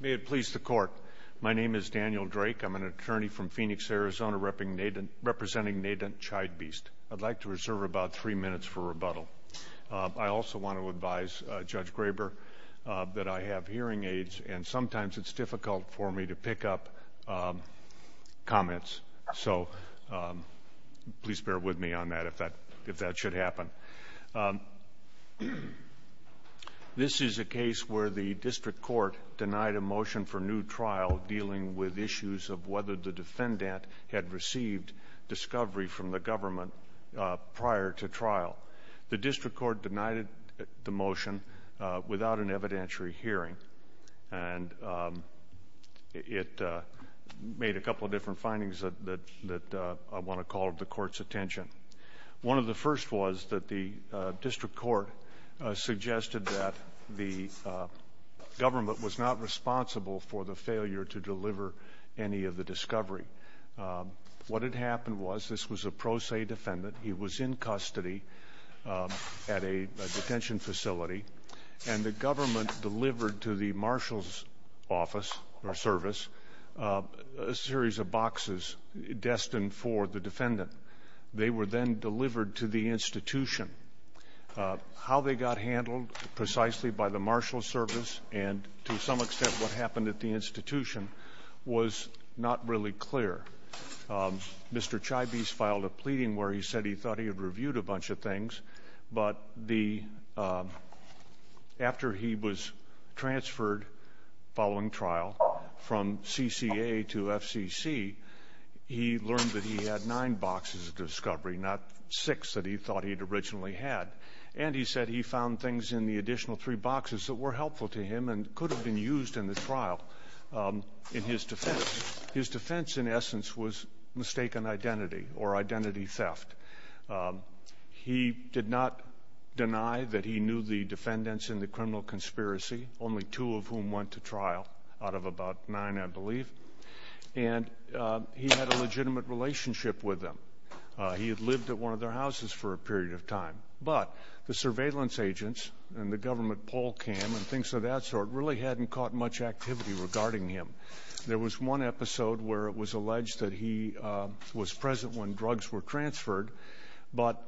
May it please the court my name is Daniel Drake I'm an attorney from Phoenix Arizona representing Nadunt Chibeast. I'd like to reserve about three minutes for rebuttal. I also want to advise Judge Graber that I have hearing aids and sometimes it's difficult for me to pick up comments so please bear with me on that if that if that should happen. This is a case where the district court denied a motion for new trial dealing with issues of whether the defendant had received discovery from the government prior to trial. The district court denied the motion without an evidentiary hearing and it made a couple of different findings that I want to call the court's attention. One of the first was that the district court suggested that the government was not responsible for the failure to deliver any of the discovery. What had happened was this was a pro se defendant he was in custody at a detention facility and the government delivered to the marshal's office or service a series of boxes destined for the defendant. They were then delivered to the institution. How they got handled precisely by the marshal service and to some extent what happened at the institution was not really clear. Mr. Chibeast filed a pleading where he said he thought he had reviewed a bunch of he learned that he had nine boxes of discovery not six that he thought he'd originally had and he said he found things in the additional three boxes that were helpful to him and could have been used in the trial in his defense. His defense in essence was mistaken identity or identity theft. He did not deny that he knew the defendants in the criminal conspiracy only two of whom went to trial out of about nine I believe and he had a legitimate relationship with them. He had lived at one of their houses for a period of time but the surveillance agents and the government poll cam and things of that sort really hadn't caught much activity regarding him. There was one episode where it was alleged that he was present when drugs were transferred but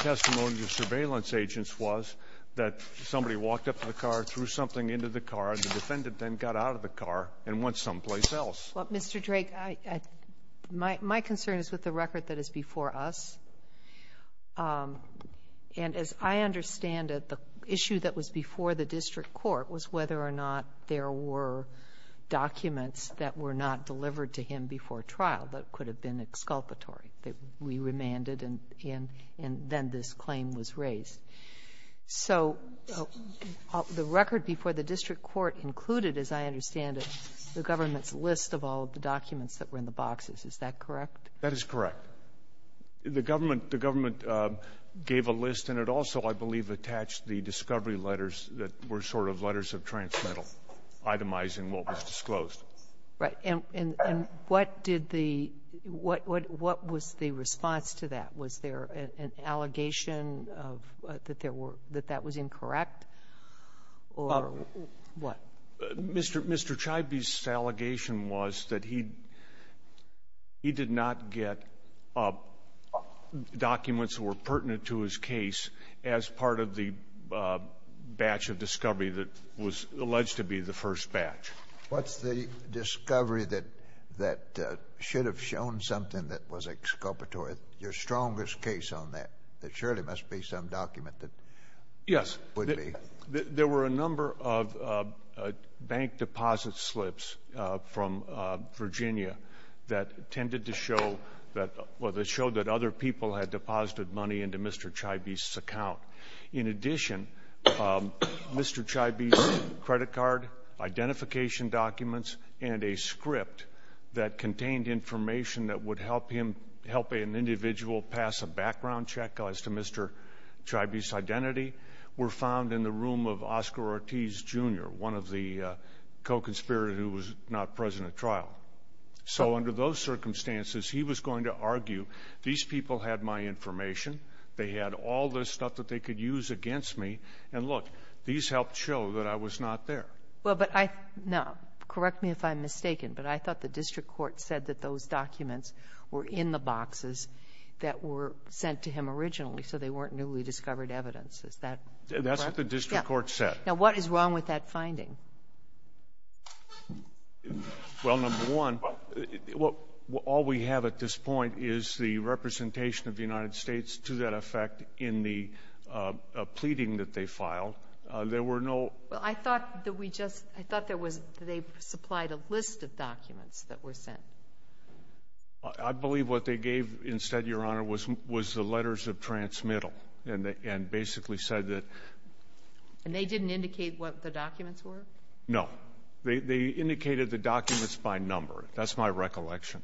testimony of surveillance agents was that somebody walked up to the car threw something into the car and the defendant then got out of the car and went someplace else. Well, Mr. Drake, I my my concern is with the record that is before us and as I understand it the issue that was before the district court was whether or not there were documents that were not delivered to him before trial that could have been exculpatory that we remanded and then this claim was raised. So the record before the district court included, as I understand it, the government's list of all of the documents that were in the boxes. Is that correct? That is correct. The government the government gave a list and it also I believe attached the discovery letters that were sort of letters of transmittal itemizing what was disclosed. Right. And what did the what what was the response to that? Was there an allegation of that there were that that was incorrect or what? Mr. Mr. Chibby's allegation was that he he did not get documents that were pertinent to his case as part of the batch of discovery that was alleged to be the first batch. What's the discovery that that should have shown something that was exculpatory? Your strongest case on that, that surely must be some document that yes, there were a number of bank deposit slips from Virginia that tended to show that well, they showed that other people had deposited money into Mr. Chibby's account. In addition, Mr. Chibby's credit card identification documents and a script that an individual pass a background check as to Mr. Chibby's identity were found in the room of Oscar Ortiz, Jr., one of the co-conspirators who was not present at trial. So under those circumstances, he was going to argue, these people had my information, they had all this stuff that they could use against me, and look, these helped show that I was not there. Well, but I no, correct me if I'm mistaken, but I thought the district court said that those documents were in the boxes that were sent to him originally, so they weren't newly discovered evidence. Is that correct? That's what the district court said. Now, what is wrong with that finding? Well, number one, all we have at this point is the representation of the United States to that effect in the pleading that they filed. There were no ---- Well, I thought that we just ---- I thought there was they supplied a list of documents that were sent. I believe what they gave instead, Your Honor, was the letters of transmittal and basically said that ---- And they didn't indicate what the documents were? No. They indicated the documents by number. That's my recollection.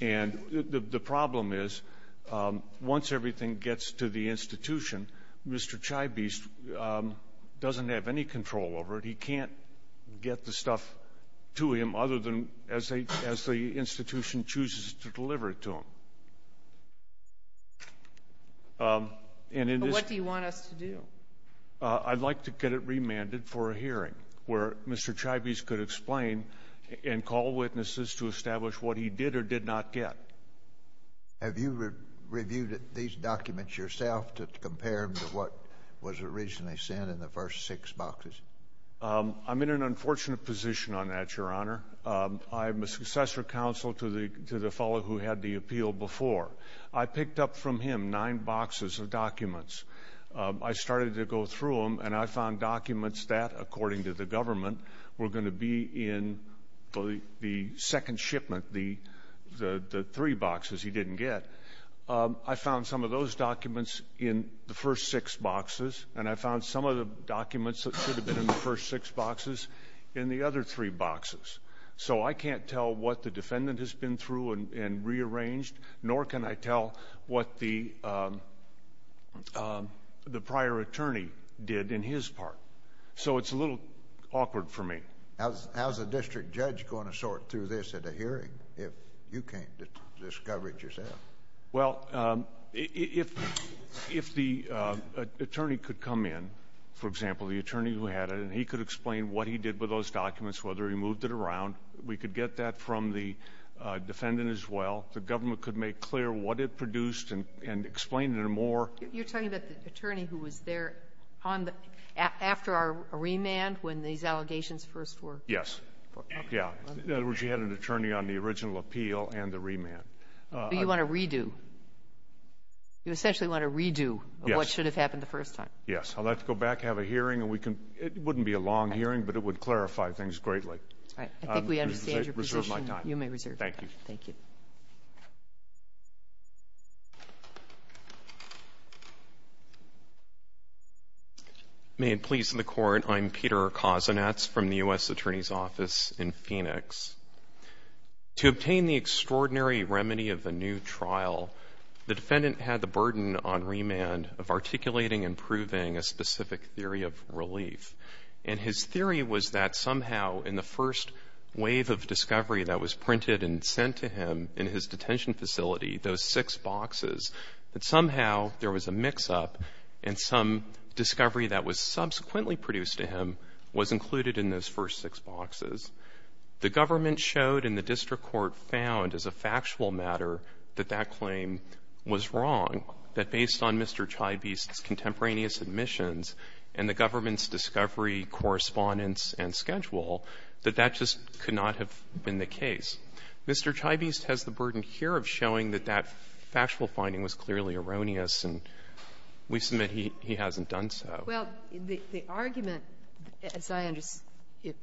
And the problem is, once everything gets to the institution, Mr. Chibby's doesn't have any control over it. He can't get the stuff to him other than as the institution chooses to deliver it to him. But what do you want us to do? I'd like to get it remanded for a hearing where Mr. Chibby's could explain and call witnesses to establish what he did or did not get. Have you reviewed these documents yourself to compare them to what was originally sent in the first six boxes? I'm in an unfortunate position on that, Your Honor. I'm a successor counsel to the fellow who had the appeal before. I picked up from him nine boxes of documents. I started to go through them, and I found documents that, according to the government, were going to be in the second shipment, the three boxes he didn't get. I found some of those documents in the first six boxes, and I found some of the documents that should have been in the first six boxes in the other three boxes. So I can't tell what the defendant has been through and rearranged, nor can I tell what the prior attorney did in his part. So it's a little awkward for me. How's a district judge going to sort through this at a hearing if you can't discover it yourself? Well, if the attorney could come in, for example, the attorney who had it, and he could explain what he did with those documents, whether he moved it around, we could get that from the defendant as well. The government could make clear what it produced and explain it in a more ---- You're talking about the attorney who was there on the ---- after our remand, when these allegations first were ---- Yes. Yeah. In other words, you had an attorney on the original appeal and the remand. Do you want to redo? You essentially want to redo what should have happened the first time. Yes. I'd like to go back, have a hearing, and we can ---- it wouldn't be a long hearing, but it would clarify things greatly. All right. I think we understand your position. You may reserve my time. You may reserve my time. Thank you. Thank you. May it please the Court. I'm Peter Kozinets from the U.S. Attorney's Office in Phoenix. To obtain the extraordinary remedy of the new trial, the defendant had the burden on remand of articulating and proving a specific theory of relief. And his theory was that somehow in the first wave of discovery that was printed and sent to him in his detention facility, those six boxes, that somehow there was a mix-up and some discovery that was subsequently produced to him was included in those first six boxes. The government showed and the district court found as a factual matter that that claim was wrong, that based on Mr. Chybist's contemporaneous admissions and the government's discovery, correspondence, and schedule, that that just could not have been the case. Mr. Chybist has the burden here of showing that that factual finding was clearly erroneous, and we submit he hasn't done so. Well, the argument, as I understand it,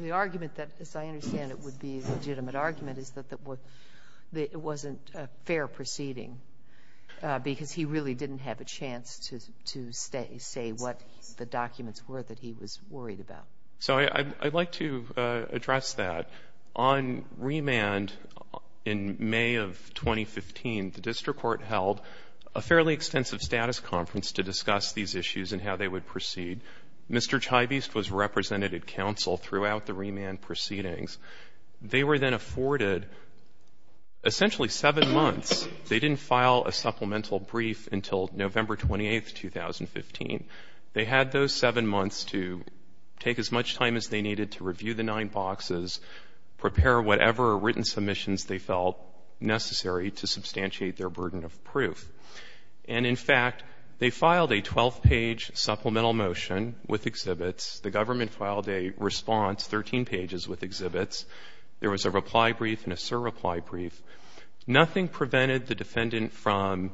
the argument that, as I understand it, would be a legitimate argument is that it wasn't a fair proceeding because he really didn't have a chance to say what the documents were that he was worried about. So I'd like to address that. On remand, in May of 2015, the district court held a fairly extensive status conference to discuss these issues and how they would proceed. Mr. Chybist was representative counsel throughout the remand proceedings. They were then afforded essentially seven months. They didn't file a supplemental brief until November 28, 2015. They had those seven months to take as much time as they needed to review the nine boxes, prepare whatever written submissions they felt necessary to substantiate their burden of proof. And, in fact, they filed a 12-page supplemental motion with exhibits. The government filed a response, 13 pages, with exhibits. There was a reply brief and a surreply brief. Nothing prevented the defendant from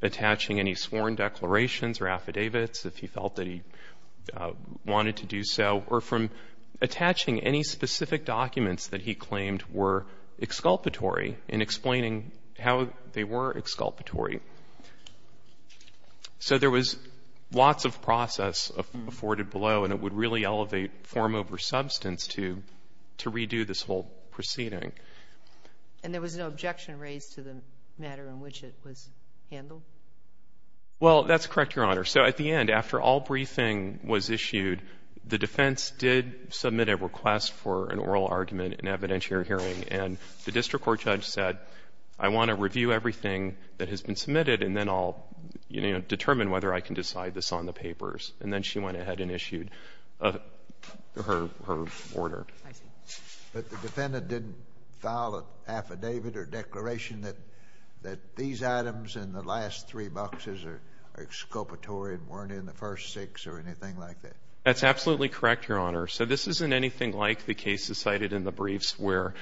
attaching any sworn declarations or affidavits if he felt that he wanted to do so, or from attaching any specific documents that he claimed were exculpatory in explaining how they were exculpatory. So there was lots of process afforded below, and it would really elevate form over substance to redo this whole proceeding. And there was no objection raised to the matter in which it was handled? Well, that's correct, Your Honor. So at the end, after all briefing was issued, the defense did submit a request for an oral argument, an evidentiary hearing, and the district court judge said, I want to review everything that has been submitted, and then I'll, you know, determine whether I can decide this on the papers. And then she went ahead and issued her order. I see. But the defendant didn't file an affidavit or declaration that these items in the briefs were exculpatory and weren't in the first six or anything like that? That's absolutely correct, Your Honor. So this isn't anything like the cases cited in the briefs where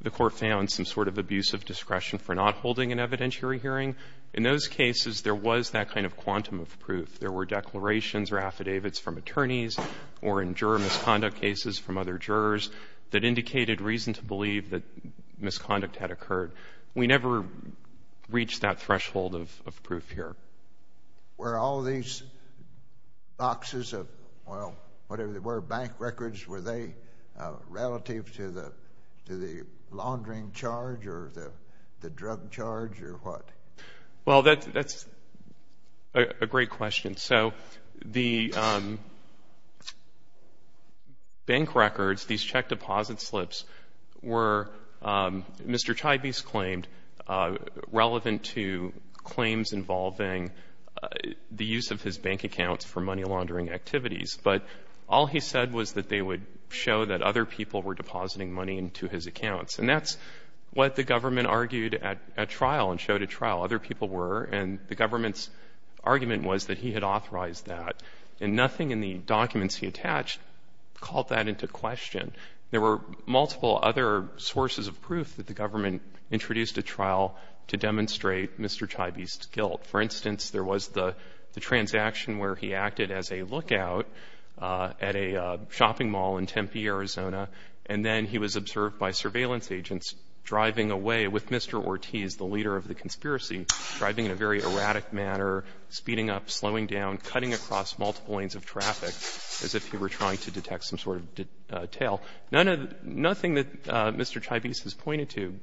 the court found some sort of abusive discretion for not holding an evidentiary hearing. In those cases, there was that kind of quantum of proof. There were declarations or affidavits from attorneys or in juror misconduct cases from other jurors that indicated reason to believe that misconduct had occurred. We never reached that threshold of proof here. Were all these boxes of, well, whatever they were, bank records, were they relative to the laundering charge or the drug charge or what? Well, that's a great question. So the bank records, these check deposit slips were, Mr. Chibe's claimed, relevant to claims involving the use of his bank accounts for money laundering activities. But all he said was that they would show that other people were depositing money into his accounts. And that's what the government argued at trial and showed at trial. Other people were. And the government's argument was that he had authorized that. And nothing in the documents he attached called that into question. There were multiple other sources of proof that the government introduced at trial to demonstrate Mr. Chibe's guilt. For instance, there was the transaction where he acted as a lookout at a shopping mall in Tempe, Arizona, and then he was observed by surveillance agents driving away with Mr. Ortiz, the leader of the conspiracy, driving in a very erratic manner, speeding up, slowing down, cutting across multiple lanes of traffic as if he were trying to detect some sort of detail. None of the — nothing that Mr. Chibe's has pointed to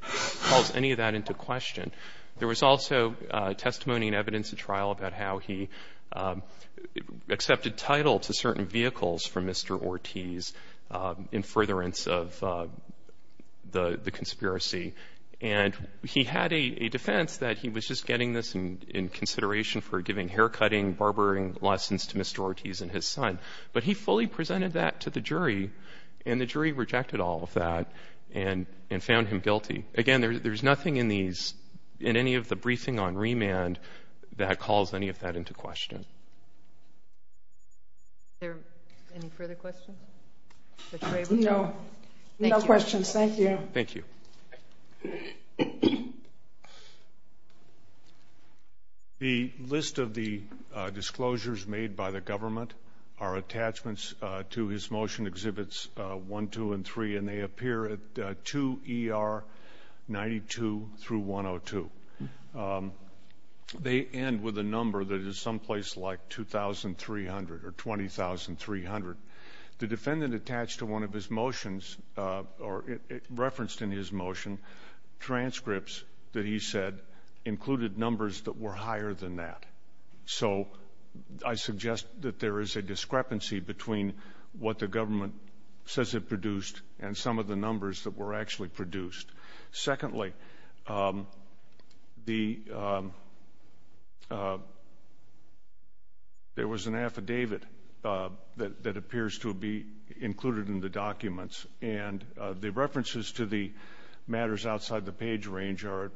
calls any of that into question. There was also testimony and evidence at trial about how he accepted title to certain vehicles from Mr. Ortiz in furtherance of the conspiracy. And he had a defense that he was just getting this in consideration for giving haircutting, barbering lessons to Mr. Ortiz and his son. But he fully presented that to the jury, and the jury rejected all of that and found him guilty. Again, there's nothing in these — in any of the briefing on remand that calls any of that into question. Is there any further questions? No. Thank you. No questions. Thank you. Thank you. The list of the disclosures made by the government are attachments to his motion Exhibits 1, 2, and 3, and they appear at 2 ER 92 through 102. They end with a number that is someplace like 2,300 or 20,300. The defendant attached to one of his motions, or referenced in his motion, transcripts that he said included numbers that were higher than that. So I suggest that there is a discrepancy between what the government says it produced and some of the numbers that were actually produced. Secondly, the — there was an affidavit that appears to be included in the documents, and the references to the matters outside the page range are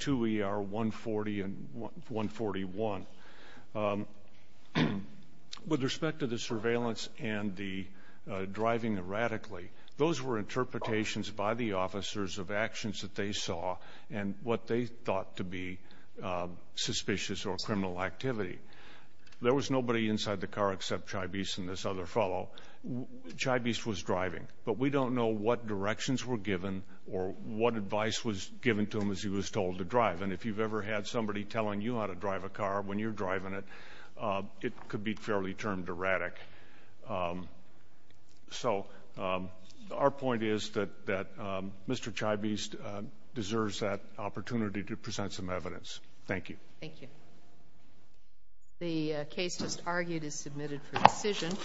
2 ER 140 and 141. With respect to the surveillance and the driving erratically, those were interpretations by the officers of actions that they saw and what they thought to be suspicious or criminal activity. There was nobody inside the car except Chybis and this other fellow. Chybis was driving, but we don't know what directions were given or what advice was given to him as he was told to drive. And if you've ever had somebody telling you how to drive a car when you're driving it, it could be fairly termed erratic. So, our point is that Mr. Chybis deserves that opportunity to present some evidence. Thank you. Thank you. The case just argued is submitted for decision.